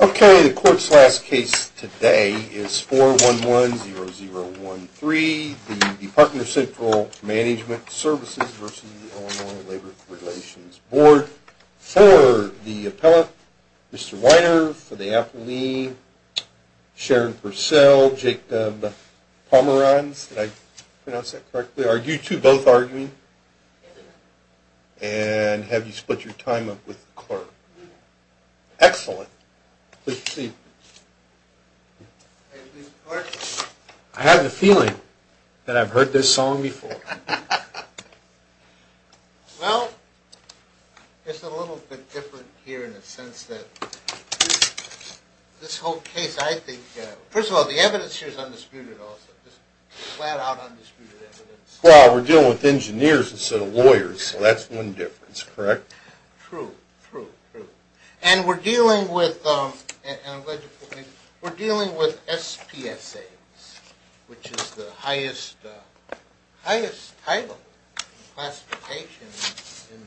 Okay, the court's last case today is 411-0013, the Department of Central Management Services v. Illinois Labor Relations Board. For the appellate, Mr. Weiner, for the appellee, Sharon Purcell, Jake Pomeranz. Did I pronounce that correctly? Are you two both arguing? And have you split your time up with the clerk? Excellent. I have the feeling that I've heard this song before. Well, it's a little bit different here in the sense that this whole case, I think, first of all, the evidence here is undisputed also, just flat out undisputed evidence. Well, we're dealing with engineers instead of lawyers, so that's one difference, correct? True, true, true. And we're dealing with SPSAs, which is the highest title in classification in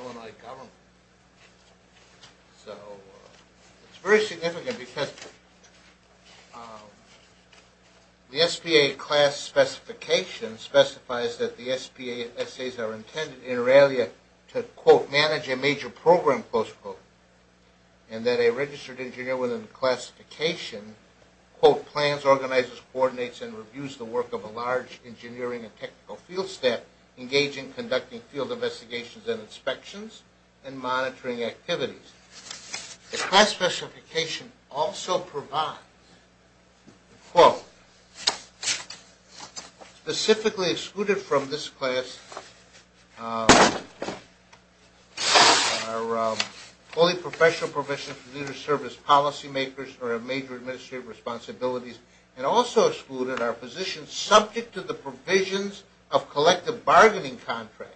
Illinois government. So, it's very significant because the SBA class specification specifies that the SPSAs are intended in relia to, quote, manage a major program, close quote, and that a registered engineer within the classification, quote, plans, organizes, coordinates, and reviews the work of a large engineering and technical field staff engaging, conducting field investigations and inspections, and monitoring activities. The class specification also provides, quote, specifically excluded from this class are fully professional professionals, or major administrative responsibilities, and also excluded are positions subject to the provisions of collective bargaining contracts.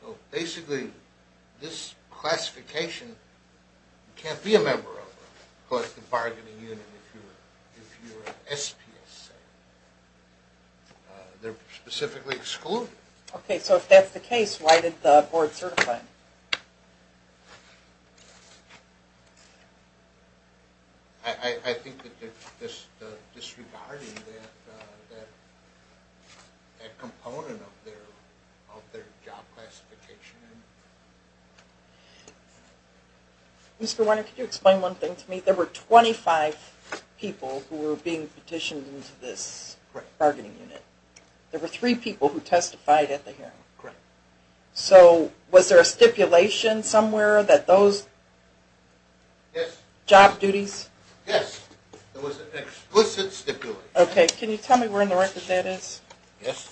So, basically, this classification, you can't be a member of it, because the bargaining unit, if you're an SPSA, they're specifically excluded. Okay, so if that's the case, why did the board certify? I think that they're disregarding that component of their job classification. Mr. Warner, could you explain one thing to me? There were 25 people who were being petitioned into this bargaining unit. There were three people who testified at the hearing. Correct. So, was there a stipulation somewhere that those job duties? Yes, there was an explicit stipulation. Okay, can you tell me where in the record that is? Yes.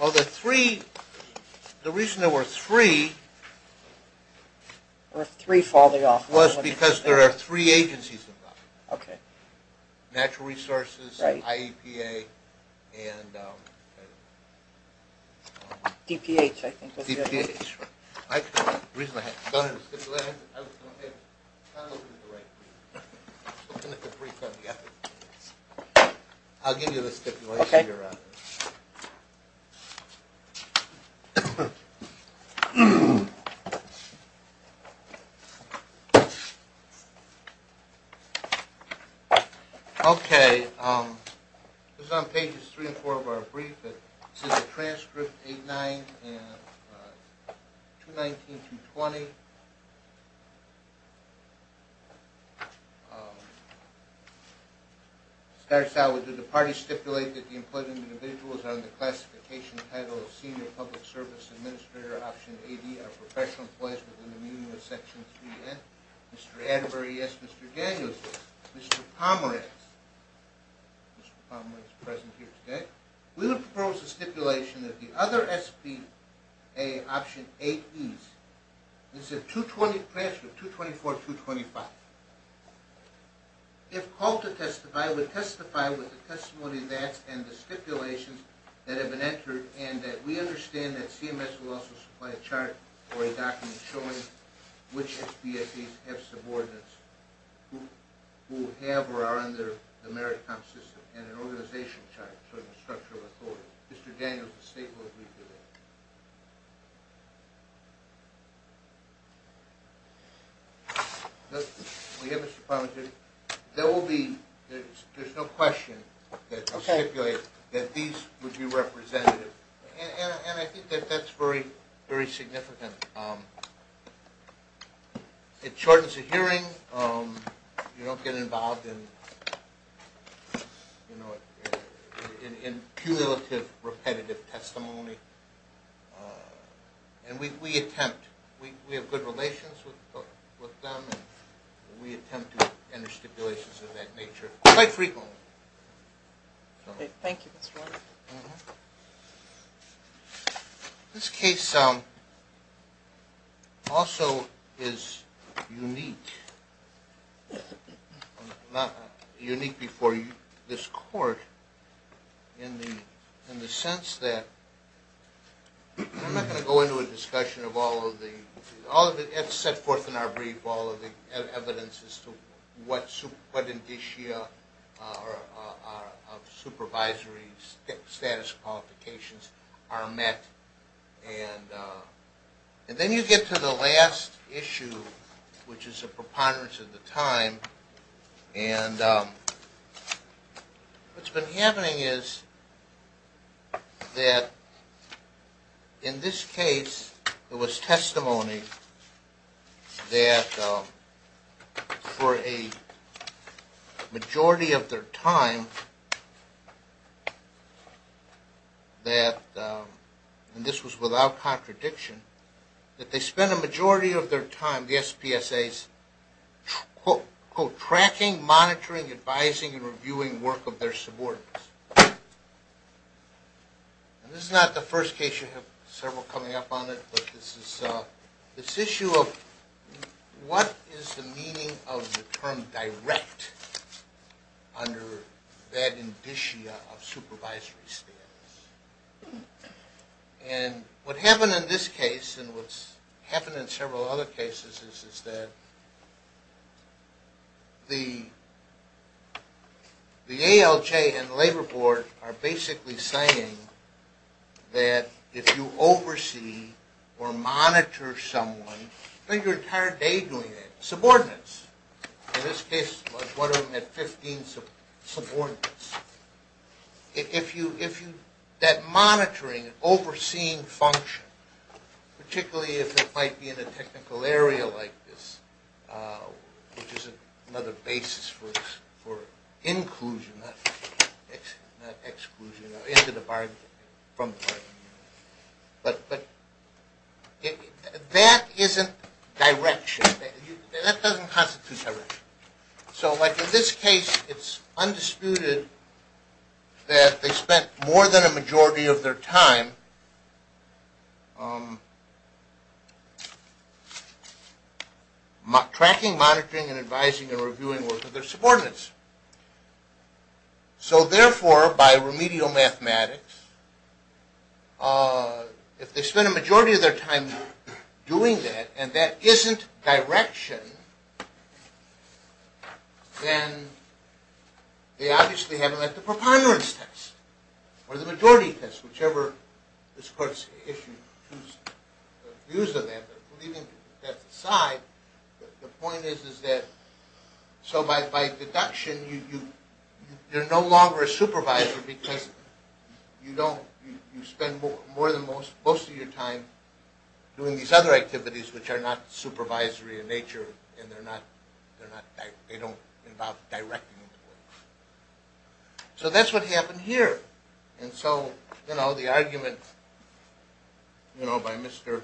Well, the three, the reason there were three was because there are three agencies involved. Okay. Natural resources, IEPA, and... DPH, I think. DPH, right. The reason I had, I don't have a stipulation, I don't have, I'm not looking at the right brief. I'm looking at the brief on the other page. Okay. Okay, this is on pages three and four of our brief. This is a transcript, 8-9, and 219-220. It starts out with, did the party stipulate that the employed individuals under the classification title of Senior Public Service Administrator Option AD are professional employees within the meaning of Section 3N? Mr. Atterbury, yes. Mr. Daniels, yes. Mr. Pomerantz. Mr. Pomerantz is present here today. We would propose a stipulation that the other SBA Option 8Es, this is a 224-225, if called to testify, would testify with the testimony of that and the stipulations that have been entered, and that we understand that CMS will also supply a chart or a document showing which SBSAs have subordinates who have or are under the merit comp system, and an organizational chart showing the structure of authority. Mr. Daniels, the state will agree to that. We have Mr. Pomerantz here. There will be, there's no question that the stipulation that these would be representative. And I think that that's very, very significant. It shortens the hearing. You don't get involved in, you know, in cumulative, repetitive testimony. And we attempt, we have good relations with them, and we attempt to enter stipulations of that nature quite frequently. Okay, thank you, Mr. Atterbury. This case also is unique, unique before this court in the sense that, I'm not going to go into a discussion of all of the, that's set forth in our brief, all of the evidence as to what indicia of supervisory status qualifications are met. And then you get to the last issue, which is a preponderance of the time. And what's been happening is that in this case, it was testimony that for a majority of their time that, and this was without contradiction, that they spent a majority of their time, the SPSAs, quote, quote, tracking, monitoring, advising, and reviewing work of their subordinates. And this is not the first case. You have several coming up on it. But this is, this issue of what is the meaning of the term direct under that indicia of supervisory status. And what happened in this case and what's happened in several other cases is that the ALJ and the Labor Board are basically saying that if you oversee or monitor someone, you spend your entire day doing that, subordinates. In this case, one of them had 15 subordinates. If you, if you, that monitoring, overseeing function, particularly if it might be in a technical area like this, which is another basis for inclusion, not exclusion, into the bargaining, from the bargaining unit. But that isn't direction. That doesn't constitute direction. So like in this case, it's undisputed that they spent more than a majority of their time tracking, monitoring, and advising, and reviewing work of their subordinates. So therefore, by remedial mathematics, if they spend a majority of their time doing that, and that isn't direction, then they obviously haven't met the preponderance test or the majority test, whichever is first issued. But leaving that aside, the point is that, so by deduction, you're no longer a supervisor because you don't, you spend more than most of your time doing these other activities which are not supervisory in nature, and they're not, they don't involve directing. So that's what happened here. And so, you know, the argument, you know, by Mr.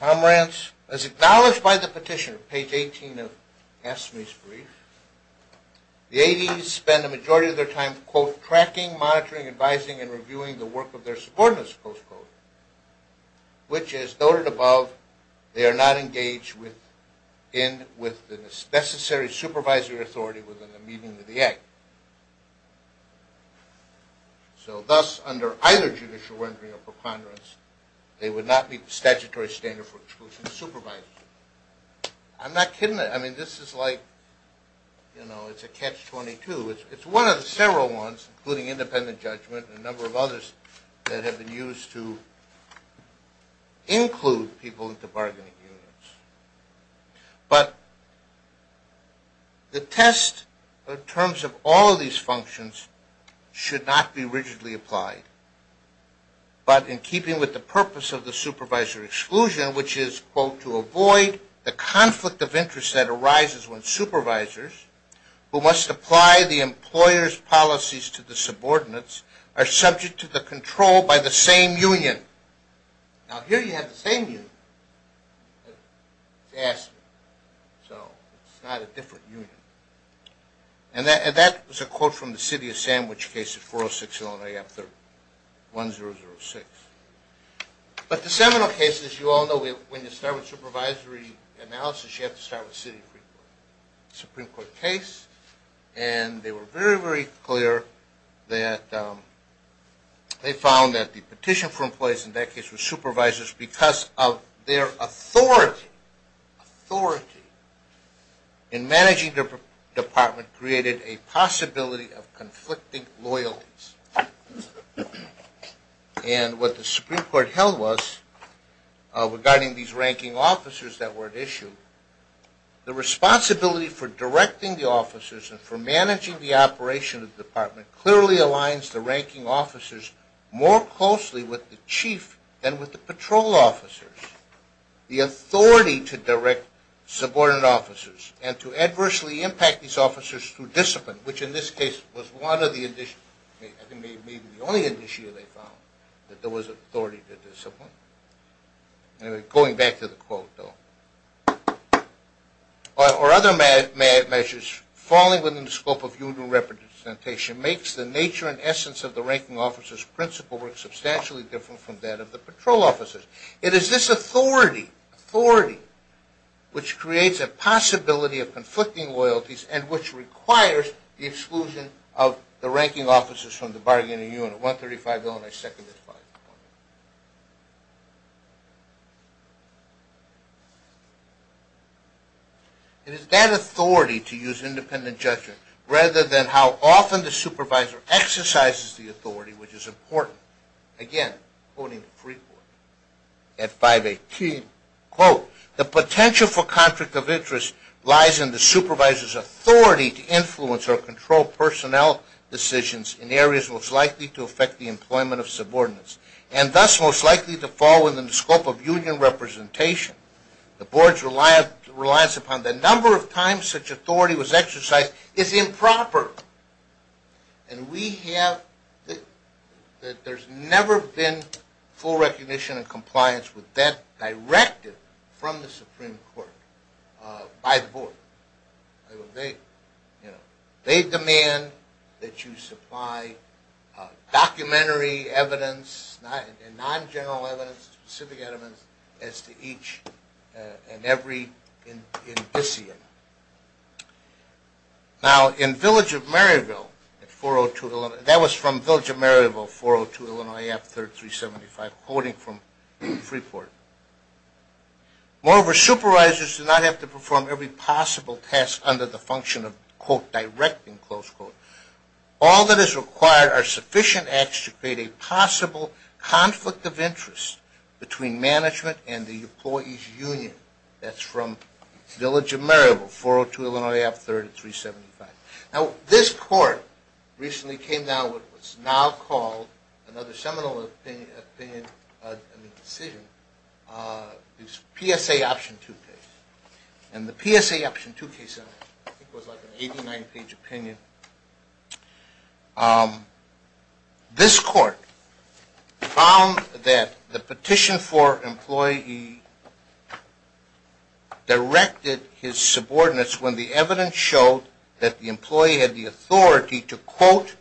Tomrance, as acknowledged by the petitioner, page 18 of Asmy's brief, the ADs spend a majority of their time, quote, tracking, monitoring, advising, and reviewing the work of their subordinates, close quote, which is noted above. But they are not engaged with the necessary supervisory authority within the meaning of the act. So thus, under either judicial rendering or preponderance, they would not meet the statutory standard for exclusion of supervisors. I'm not kidding. I mean, this is like, you know, it's a catch-22. It's one of several ones, including independent judgment and a number of others that have been used to include people into bargaining unions. But the test in terms of all of these functions should not be rigidly applied. But in keeping with the purpose of the supervisory exclusion, which is, quote, the conflict of interest that arises when supervisors, who must apply the employer's policies to the subordinates, are subject to the control by the same union. Now, here you have the same union as Asmy. So it's not a different union. And that was a quote from the city of Sandwich case of 406 Illinois after 1006. But the seminal case, as you all know, when you start with supervisory analysis, you have to start with city Supreme Court case. And they were very, very clear that they found that the petition for employees in that case were supervisors because of their authority. Authority in managing their department created a possibility of conflicting loyalties. And what the Supreme Court held was, regarding these ranking officers that were at issue, the responsibility for directing the officers and for managing the operation of the department clearly aligns the ranking officers more closely with the chief than with the patrol officers. The authority to direct subordinate officers and to adversely impact these officers through discipline, which in this case was one of the, I think maybe the only initiative they found, that there was authority to discipline. Anyway, going back to the quote, though. Or other measures falling within the scope of union representation makes the nature and essence of the ranking officers' principle work substantially different from that of the patrol officers. It is this authority, authority, which creates a possibility of conflicting loyalties and which requires the exclusion of the ranking officers from the bargaining unit. 135-0 and I second this clause. It is that authority to use independent judgment rather than how often the supervisor exercises the authority, which is important. Again, quoting the Supreme Court at 518, quote, The potential for conflict of interest lies in the supervisor's authority to influence or control personnel decisions in areas most likely to affect the employment of subordinates and thus most likely to fall within the scope of union representation. The board's reliance upon the number of times such authority was exercised is improper. And we have, there's never been full recognition and compliance with that directive from the Supreme Court by the board. They demand that you supply documentary evidence and non-general evidence, specific evidence, as to each and every indicium. Now, in Village of Maryville at 402, that was from Village of Maryville, 402 Illinois AF 3rd 375, quoting from Freeport, Moreover, supervisors do not have to perform every possible task under the function of, quote, directing, close quote. All that is required are sufficient acts to create a possible conflict of interest between management and the employee's union. That's from Village of Maryville, 402 Illinois AF 3rd 375. Now, this court recently came down with what's now called another seminal opinion, I mean decision, it's PSA Option 2 case. And the PSA Option 2 case, I think, was like an 89-page opinion. This court found that the petition for employee directed his subordinates when the evidence showed that the employee had the authority to, quote,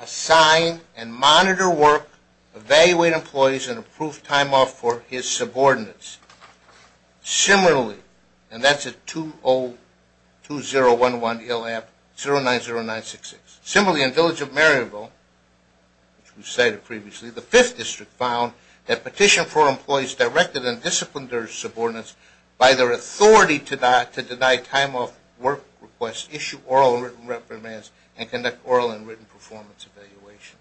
assign and monitor work, evaluate employees, and approve time off for his subordinates. Similarly, and that's at 202011 Illinois AF 090966. Similarly, in Village of Maryville, which we cited previously, the 5th District found that petition for employees directed and disciplined their subordinates by their authority to deny time off work requests, issue oral and written reprimands, and conduct oral and written performance evaluations.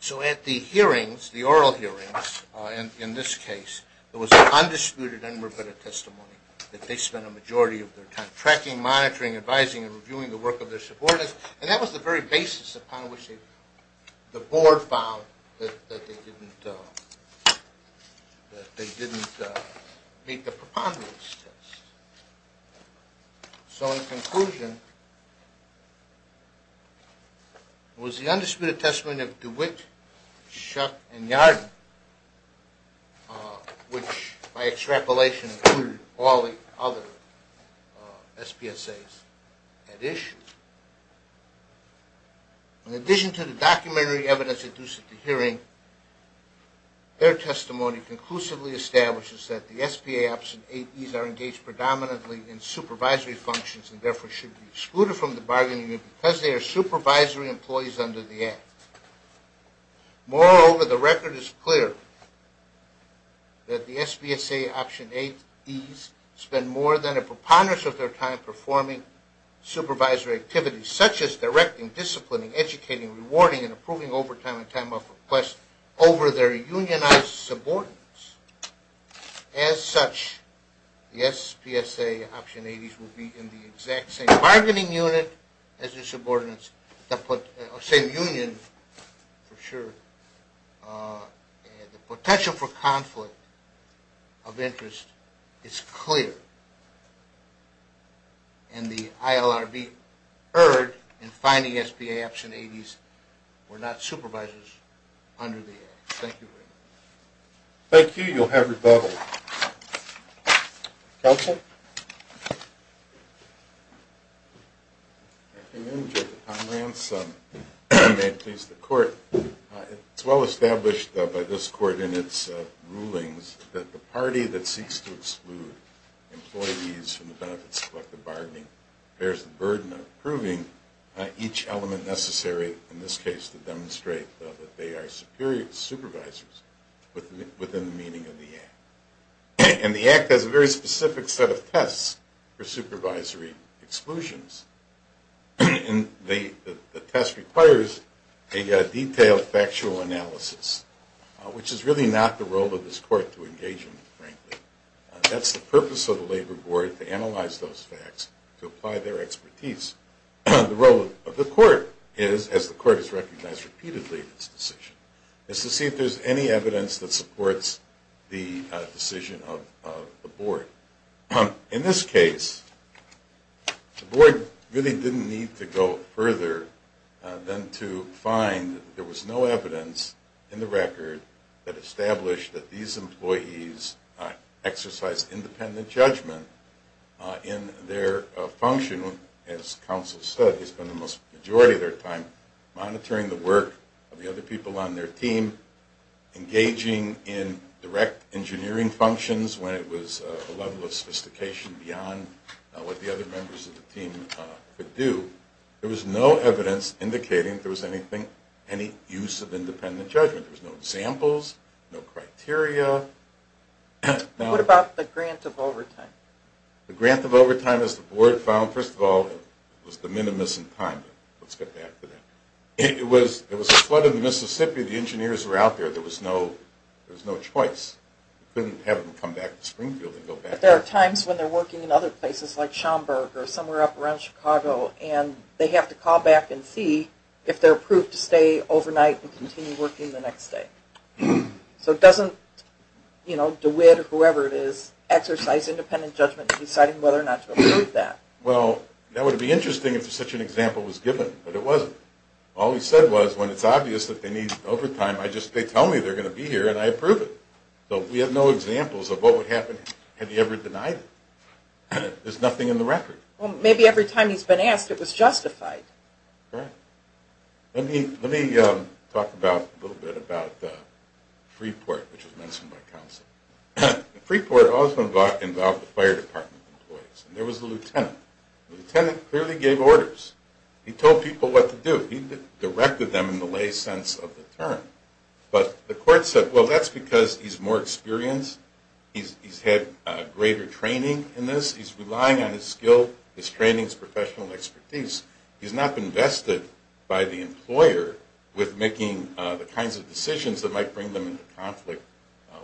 So at the hearings, the oral hearings, in this case, there was undisputed and rebutted testimony that they spent a majority of their time tracking, monitoring, advising, and reviewing the work of their subordinates. And that was the very basis upon which the board found that they didn't meet the preponderance test. So in conclusion, it was the undisputed testimony of DeWitt, Shuck, and Yarden, which, by extrapolation, included all the other SPSAs at issue. In addition to the documentary evidence introduced at the hearing, their testimony conclusively establishes that the SBA Option 8Es are engaged predominantly in supervisory functions and therefore should be excluded from the bargaining unit because they are supervisory employees under the Act. Moreover, the record is clear that the SBSA Option 8Es spend more than a preponderance of their time performing supervisory activities such as directing, disciplining, educating, rewarding, and approving overtime and time off requests over their unionized subordinates. As such, the SPSA Option 8Es will be in the exact same bargaining unit as their subordinates, same union for sure. The potential for conflict of interest is clear, and the ILRB urge in finding SPSA Option 8Es were not supervisors under the Act. Thank you very much. Thank you. You'll have rebuttal. Counsel? Good afternoon, Judge Tomrance. May it please the Court. It's well established by this Court in its rulings that the party that seeks to exclude employees from the benefits of collective bargaining bears the burden of approving each element necessary, in this case, to demonstrate that they are supervisors within the meaning of the Act. And the Act has a very specific set of tests for supervisory exclusions, and the test requires a detailed factual analysis, which is really not the role of this Court to engage in, frankly. That's the purpose of the Labor Board, to analyze those facts, to apply their expertise. The role of the Court is, as the Court has recognized repeatedly in this decision, is to see if there's any evidence that supports the decision of the Board. In this case, the Board really didn't need to go further than to find that there was no evidence in the record that established that these employees exercised independent judgment in their function. As counsel said, they spent the majority of their time monitoring the work of the other people on their team, engaging in direct engineering functions when it was a level of sophistication beyond what the other members of the team could do. There was no evidence indicating there was any use of independent judgment. There were no examples, no criteria. What about the grant of overtime? The grant of overtime, as the Board found, first of all, was de minimis in time. Let's get back to that. It was a flood in the Mississippi. The engineers were out there. There was no choice. You couldn't have them come back to Springfield and go back. But there are times when they're working in other places like Schaumburg or somewhere up around Chicago, and they have to call back and see if they're approved to stay overnight and continue working the next day. So it doesn't, you know, DeWitt or whoever it is, exercise independent judgment in deciding whether or not to approve that. Well, that would be interesting if such an example was given, but it wasn't. All he said was, when it's obvious that they need overtime, they tell me they're going to be here and I approve it. So we have no examples of what would happen had he ever denied it. There's nothing in the record. Well, maybe every time he's been asked, it was justified. Right. Let me talk a little bit about Freeport, which was mentioned by counsel. Freeport also involved the fire department employees. There was a lieutenant. The lieutenant clearly gave orders. He told people what to do. He directed them in the lay sense of the term. But the court said, well, that's because he's more experienced. He's had greater training in this. He's relying on his skill, his training, his professional expertise. He's not been vested by the employer with making the kinds of decisions that might bring them into conflict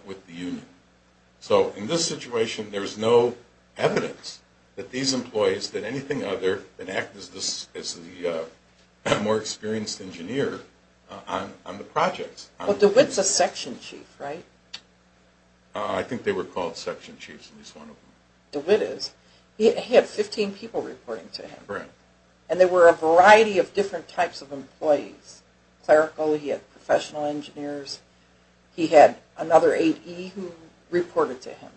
with the union. So in this situation, there's no evidence that these employees did anything other than act as the more experienced engineer on the projects. But DeWitt's a section chief, right? I think they were called section chiefs, at least one of them. DeWitt is. He had 15 people reporting to him. Correct. And there were a variety of different types of employees. Clerical, he had professional engineers. He had another AD who reported to him.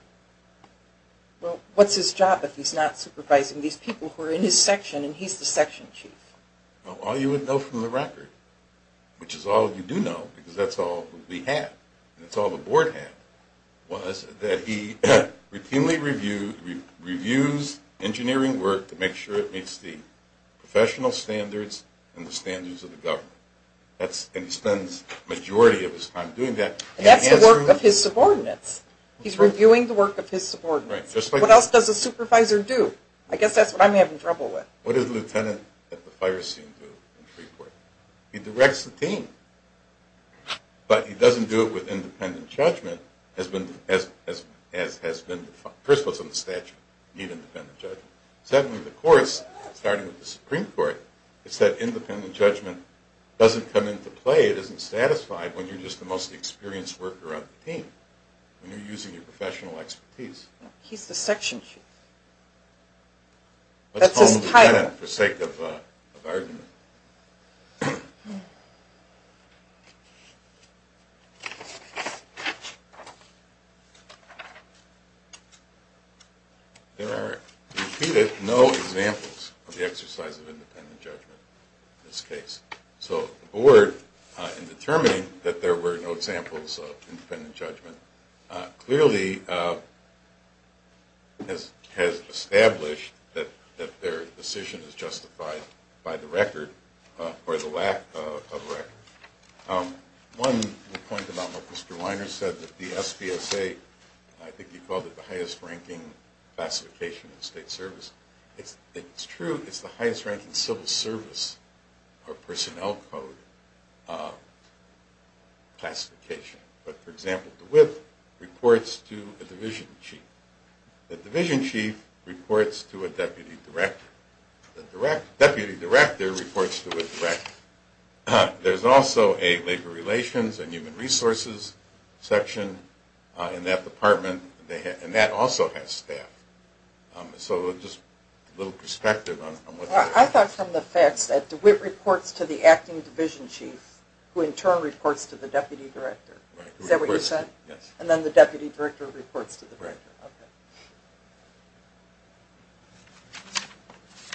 Well, what's his job if he's not supervising these people who are in his section and he's the section chief? Well, all you would know from the record, which is all you do know because that's all we have and that's all the board had, was that he routinely reviews engineering work to make sure it meets the professional standards and the standards of the government. And he spends the majority of his time doing that. That's the work of his subordinates. He's reviewing the work of his subordinates. What else does a supervisor do? I guess that's what I'm having trouble with. What does the lieutenant at the fire scene do in the Supreme Court? He directs the team. But he doesn't do it with independent judgment as has been defined. First of all, it's in the statute. You need independent judgment. Secondly, the courts, starting with the Supreme Court, it's that independent judgment doesn't come into play. It isn't satisfied when you're just the most experienced worker on the team, when you're using your professional expertise. He's the section chief. That's his title. For sake of argument. There are repeated no examples of the exercise of independent judgment in this case. So the board, in determining that there were no examples of independent judgment, clearly has established that their decision is justified by the record or the lack of record. One point about what Mr. Weiner said, that the SBSA, I think he called it the highest ranking classification in state service. It's true it's the highest ranking civil service or personnel code classification. But, for example, the WIP reports to a division chief. The division chief reports to a deputy director. The deputy director reports to a director. There's also a labor relations and human resources section in that department. And that also has staff. So just a little perspective on what that is. I thought from the facts that the WIP reports to the acting division chief, who in turn reports to the deputy director. Is that what you said? Yes. And then the deputy director reports to the director. Right.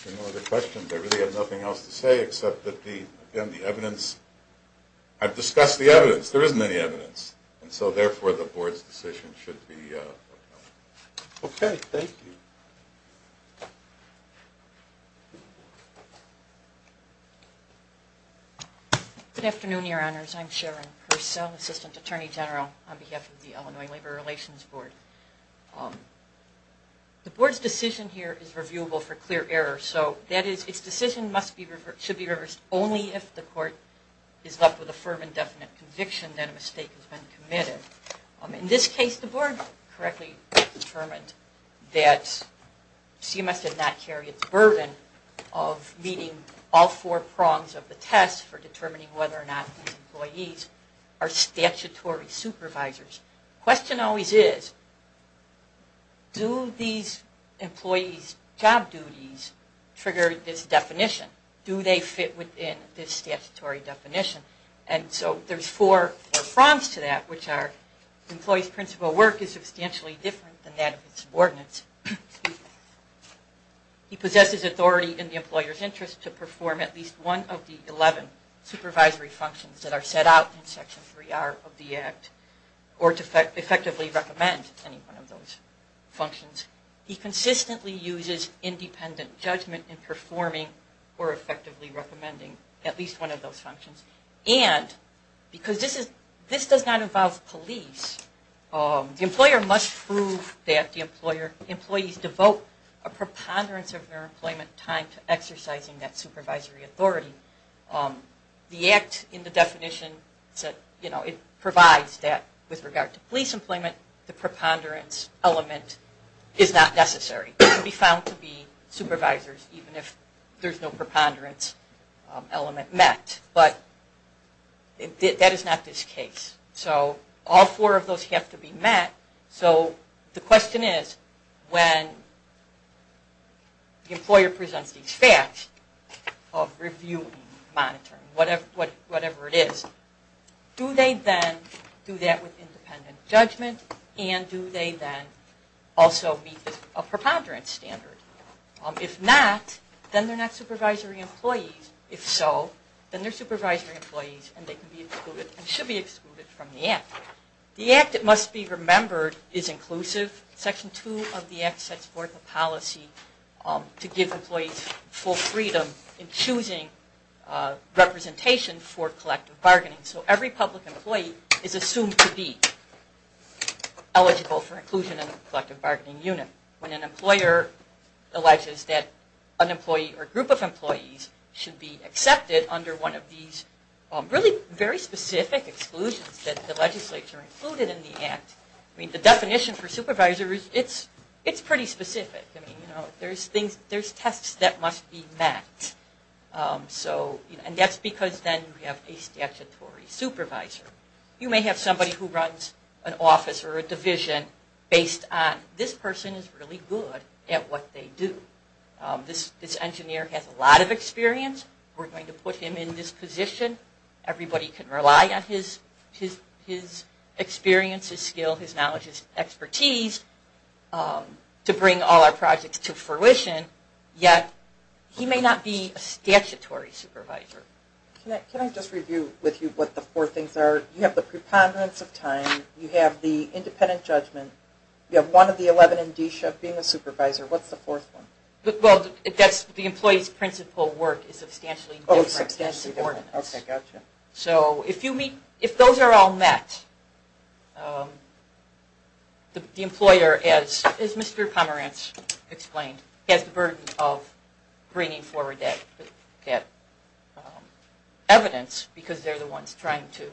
Okay. Any other questions? I really have nothing else to say except that the evidence, I've discussed the evidence. There isn't any evidence. And so therefore the board's decision should be. Okay. Thank you. Good afternoon, your honors. I'm Sharon Purcell, assistant attorney general on behalf of the Illinois Labor Relations Board. The board's decision here is reviewable for clear error. So that is, its decision should be reversed only if the court is left with a firm and definite conviction that a mistake has been committed. In this case, the board correctly determined that CMS did not carry its burden of meeting all four prongs of the test for determining whether or not these employees are statutory supervisors. The question always is, do these employees' job duties trigger this definition? Do they fit within this statutory definition? And so there's four prongs to that, which are the employee's principal work is substantially different than that of his subordinates. He possesses authority in the employer's interest to perform at least one of the 11 supervisory functions that are set out in Section 3R of the Act, or to effectively recommend any one of those functions. He consistently uses independent judgment in performing or effectively recommending at least one of those functions. And because this does not involve police, the employer must prove that the employees devote a preponderance of their employment time to exercising that supervisory authority. The Act in the definition provides that with regard to police employment, the preponderance element is not necessary. They can be found to be supervisors even if there's no preponderance element met. But that is not this case. So all four of those have to be met. So the question is, when the employer presents these facts of reviewing, monitoring, whatever it is, do they then do that with independent judgment and do they then also meet a preponderance standard? If not, then they're not supervisory employees. If so, then they're supervisory employees and they can be excluded and should be excluded from the Act. The Act, it must be remembered, is inclusive. Section 2 of the Act sets forth a policy to give employees full freedom in choosing representation for collective bargaining. So every public employee is assumed to be eligible for inclusion in the collective bargaining unit. When an employer alleges that an employee or group of employees should be accepted under one of these really very specific exclusions that the legislature included in the Act, the definition for supervisor, it's pretty specific. There's tests that must be met. And that's because then you have a statutory supervisor. You may have somebody who runs an office or a division based on this person is really good at what they do. This engineer has a lot of experience. We're going to put him in this position. Everybody can rely on his experience, his skill, his knowledge, his expertise to bring all our projects to fruition. Yet, he may not be a statutory supervisor. Can I just review with you what the four things are? You have the preponderance of time. You have the independent judgment. You have one of the 11 in D-SHEV being a supervisor. What's the fourth one? The employee's principal work is substantially different than subordinates. So if those are all met, the employer, as Mr. Pomerantz explained, has the burden of bringing forward that evidence because they're the ones trying to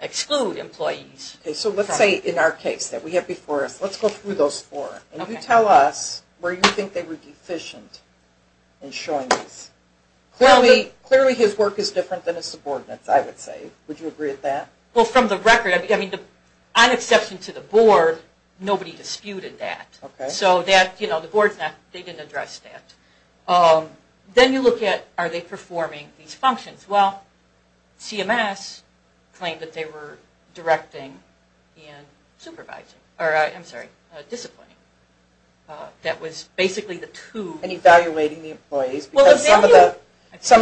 exclude employees. So let's say in our case that we have before us, let's go through those four. Can you tell us where you think they were deficient in showing this? Clearly his work is different than his subordinates, I would say. Would you agree with that? Well, from the record, on exception to the board, nobody disputed that. So the board didn't address that. Then you look at are they performing these functions. Well, CMS claimed that they were directing and supervising. I'm sorry, disciplining. That was basically the two. And evaluating the employees because some of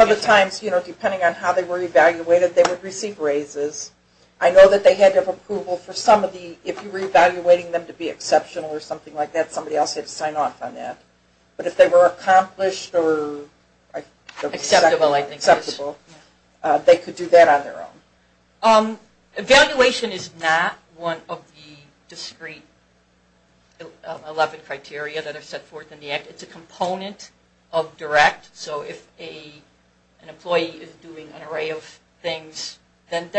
the times, depending on how they were evaluated, they would receive raises. I know that they had to have approval for some of the, if you were evaluating them to be exceptional or something like that, somebody else had to sign off on that. But if they were accomplished or... Acceptable, I think. Acceptable. They could do that on their own. Evaluation is not one of the discrete 11 criteria that are set forth in the Act. It's a component of direct. So if an employee is doing an array of things, then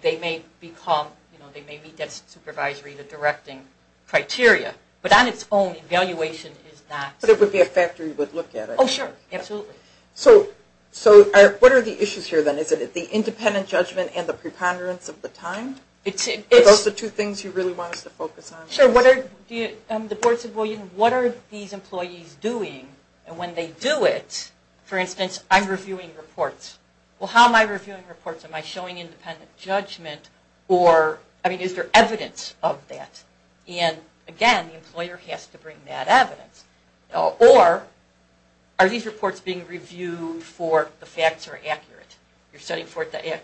they may meet that supervisory, the directing criteria. But on its own, evaluation is not... But it would be a factor you would look at. Oh, sure. Absolutely. So what are the issues here then? Is it the independent judgment and the preponderance of the time? Are those the two things you really want us to focus on? Sure. The board said, well, what are these employees doing? And when they do it, for instance, I'm reviewing reports. Well, how am I reviewing reports? Am I showing independent judgment? Or, I mean, is there evidence of that? And, again, the employer has to bring that evidence. Or, are these reports being reviewed for the facts are accurate? You're studying for the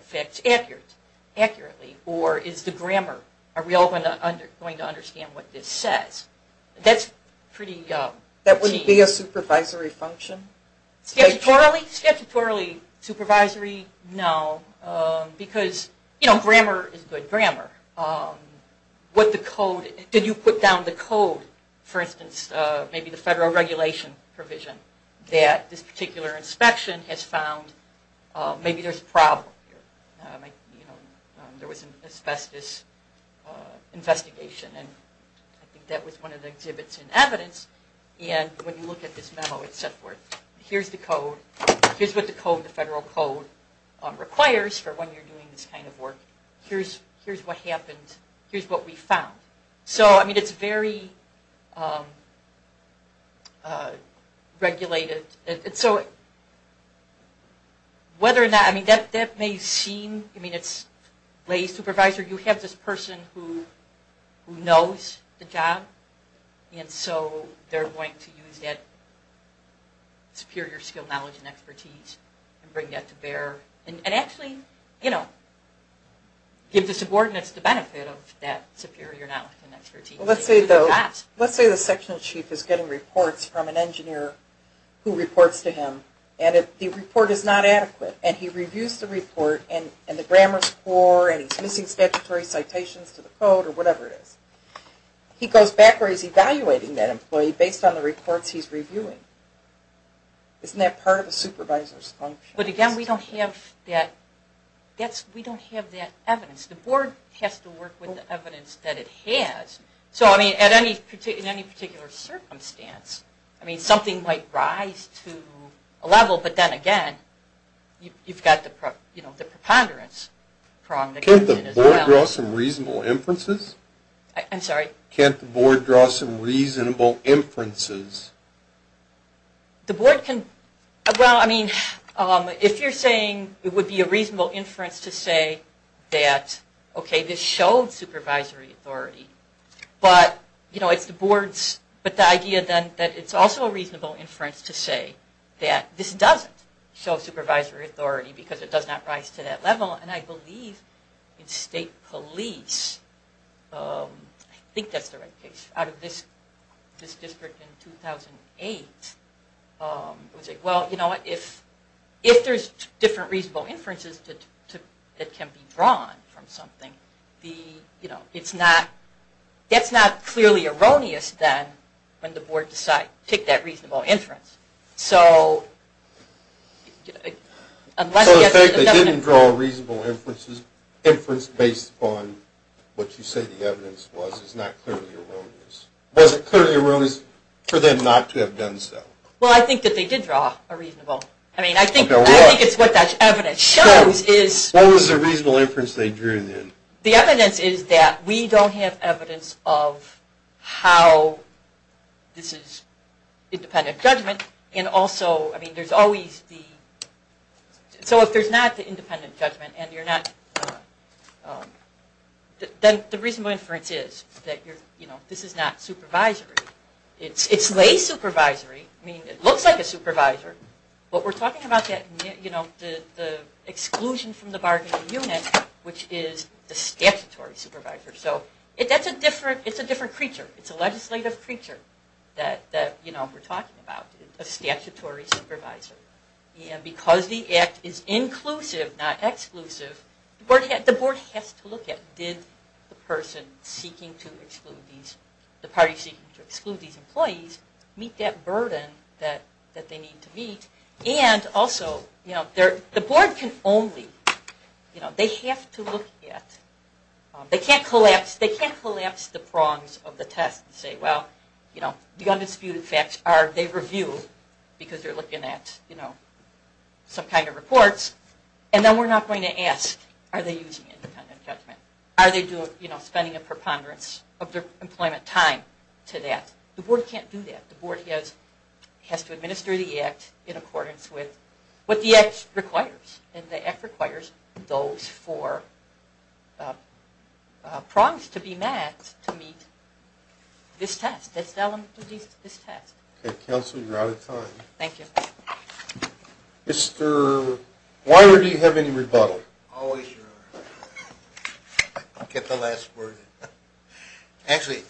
facts accurately. Or is the grammar... Are we all going to understand what this says? That's pretty... That wouldn't be a supervisory function? Statutorily? Statutorily. Supervisory? No. Because, you know, grammar is good grammar. What the code... Did you put down the code, for instance, maybe the federal regulation provision, that this particular inspection has found maybe there's a problem here? You know, there was an asbestos investigation, and I think that was one of the exhibits in evidence. And when you look at this memo, et cetera, here's the code. Here's what the federal code requires for when you're doing this kind of work. Here's what happened. Here's what we found. So, I mean, it's very regulated. And so whether or not... I mean, that may seem... I mean, it's lay supervisor. You have this person who knows the job, and so they're going to use that superior skill, knowledge, and expertise and bring that to bear. And actually, you know, give the subordinates the benefit of that superior knowledge and expertise. Let's say the section chief is getting reports from an engineer who reports to him, and the report is not adequate. And he reviews the report, and the grammar is poor, and he's missing statutory citations to the code, or whatever it is. He goes back where he's evaluating that employee based on the reports he's reviewing. Isn't that part of a supervisor's function? But again, we don't have that evidence. The board has to work with the evidence that it has. So, I mean, in any particular circumstance, I mean, something might rise to a level, but then again, you've got the preponderance problem. Can't the board draw some reasonable inferences? I'm sorry? Can't the board draw some reasonable inferences? The board can, well, I mean, if you're saying it would be a reasonable inference to say that, okay, this shows supervisory authority, but, you know, it's the board's, but the idea then that it's also a reasonable inference to say that this doesn't show supervisory authority because it does not rise to that level. And I believe in state police, I think that's the right case, out of this district in 2008. Well, you know what, if there's different reasonable inferences that can be drawn from something, you know, it's not, that's not clearly erroneous then when the board decides to take that reasonable inference. So... So the fact they didn't draw a reasonable inference based upon what you say the evidence was is not clearly erroneous. Was it clearly erroneous for them not to have done so? Well, I think that they did draw a reasonable. I mean, I think it's what that evidence shows is... What was the reasonable inference they drew then? The evidence is that we don't have evidence of how this is independent judgment, and also, I mean, there's always the... So if there's not the independent judgment and you're not... Then the reasonable inference is that this is not supervisory. It's lay supervisory. I mean, it looks like a supervisor, but we're talking about the exclusion from the bargaining unit, which is the statutory supervisor. So it's a different creature. It's a legislative creature that we're talking about, a statutory supervisor. And because the act is inclusive, not exclusive, the board has to look at, did the party seeking to exclude these employees meet that burden that they need to meet? And also, the board can only... They have to look at... They can't collapse the prongs of the test and say, well, the undisputed facts are they review, because they're looking at some kind of reports, and then we're not going to ask, are they using independent judgment? Are they spending a preponderance of their employment time to that? The board can't do that. The board has to administer the act in accordance with what the act requires. And the act requires those four prongs to be met to meet this test, this element of this test. Okay, counsel, you're out of time. Thank you. Mr. Weiler, do you have any rebuttal? Always your honor. I'll get the last word. Actually,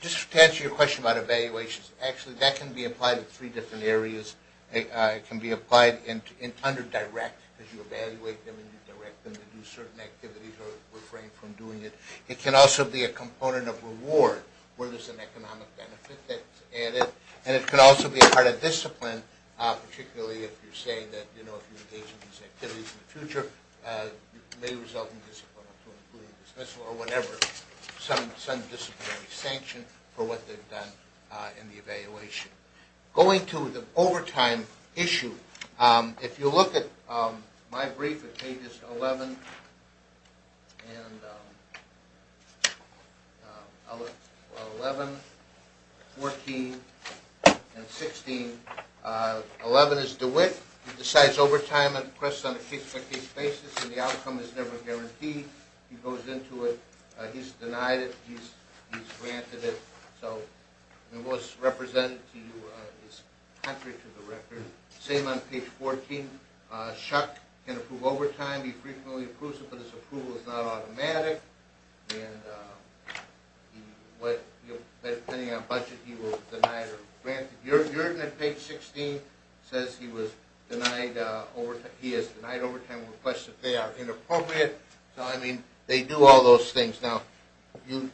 just to answer your question about evaluations, actually that can be applied in three different areas. It can be applied under direct, because you evaluate them and you direct them to do certain activities or refrain from doing it. It can also be a component of reward, where there's an economic benefit that's added. And it can also be a part of discipline, particularly if you're saying that, you know, if you engage in these activities in the future, it may result in disciplinary action, including dismissal or whatever, some disciplinary sanction for what they've done in the evaluation. Going to the overtime issue, if you look at my brief at pages 11 and 14 and 16, 11 is DeWitt. He decides overtime on a case-by-case basis, and the outcome is never guaranteed. He goes into it. He's denied it. He's granted it. So it was represented to you. It's contrary to the record. Same on page 14. Chuck can approve overtime. He frequently approves it, but his approval is not automatic. And depending on budget, he will deny it or grant it. Your unit, page 16, says he was denied overtime. He has denied overtime requests if they are inappropriate. So, I mean, they do all those things. Then you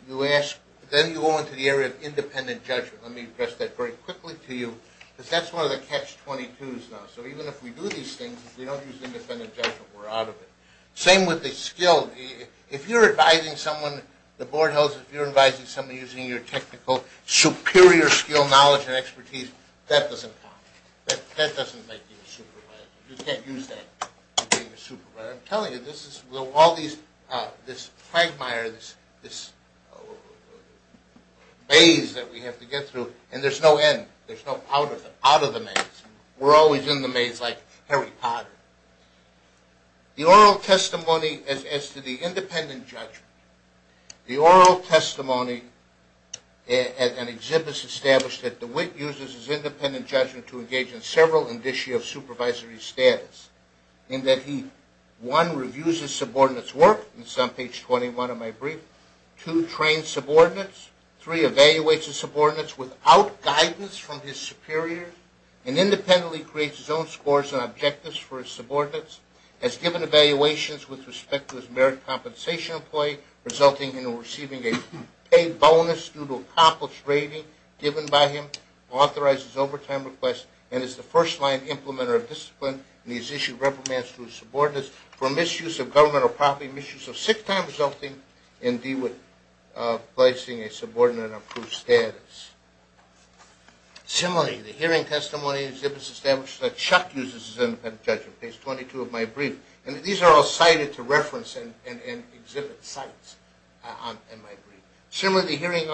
go into the area of independent judgment. Let me address that very quickly to you, because that's one of the catch-22s now. So even if we do these things, if we don't use independent judgment, we're out of it. Same with the skill. If you're advising someone, the board of health, if you're advising someone using your technical superior skill, knowledge, and expertise, that doesn't count. That doesn't make you a supervisor. You can't use that to be a supervisor. I'm telling you, all these quagmires, this maze that we have to get through, and there's no end. There's no out of the maze. We're always in the maze like Harry Potter. The oral testimony as to the independent judgment, the oral testimony at an exhibit established that DeWitt uses his independent judgment to engage in several indicia of supervisory status, in that he, one, reviews his subordinates' work. This is on page 21 of my brief. Two, trains subordinates. Three, evaluates his subordinates without guidance from his superiors, and independently creates his own scores and objectives for his subordinates, has given evaluations with respect to his merit compensation employee, resulting in receiving a paid bonus due to accomplished rating given by him, authorizes overtime requests, and is the first-line implementer of discipline, and he's issued reprimands to his subordinates for misuse of governmental property, misuse of sick time, resulting in DeWitt placing a subordinate in an approved status. Similarly, the hearing testimony is established that Chuck uses his independent judgment, page 22 of my brief. And these are all cited to reference and exhibit sites in my brief. Similarly, the hearing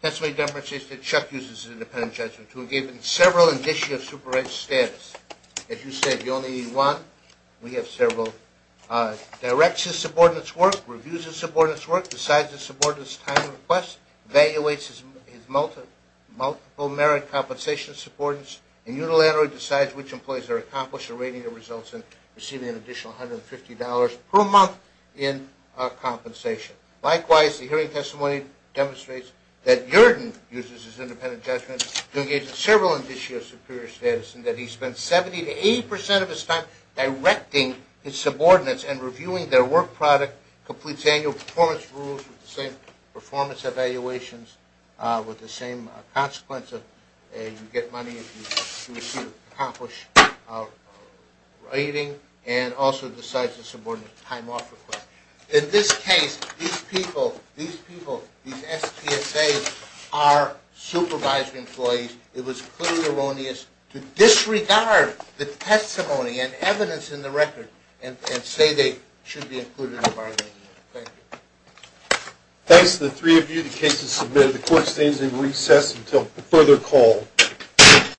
testimony demonstrates that Chuck uses his independent judgment to engage in several initiatives to correct status. As you said, you only need one. We have several. Directs his subordinates' work. Reviews his subordinates' work. Decides his subordinates' time requests. Evaluates his multiple merit compensation subordinates. And unilaterally decides which employees are accomplished or rating their results and receiving an additional $150 per month in compensation. Likewise, the hearing testimony demonstrates that Jordan uses his independent judgment to engage in several initiatives to improve his status, and that he spends 70% to 80% of his time directing his subordinates and reviewing their work product, completes annual performance rules with the same performance evaluations, with the same consequence of you get money if you accomplish rating, and also decides his subordinates' time off requests. In this case, these people, these SPSAs, are supervisor employees. It was clearly erroneous to disregard the testimony and evidence in the record and say they should be included in bargaining. Thank you. Thanks to the three of you. The case is submitted. The court stands in recess until further call.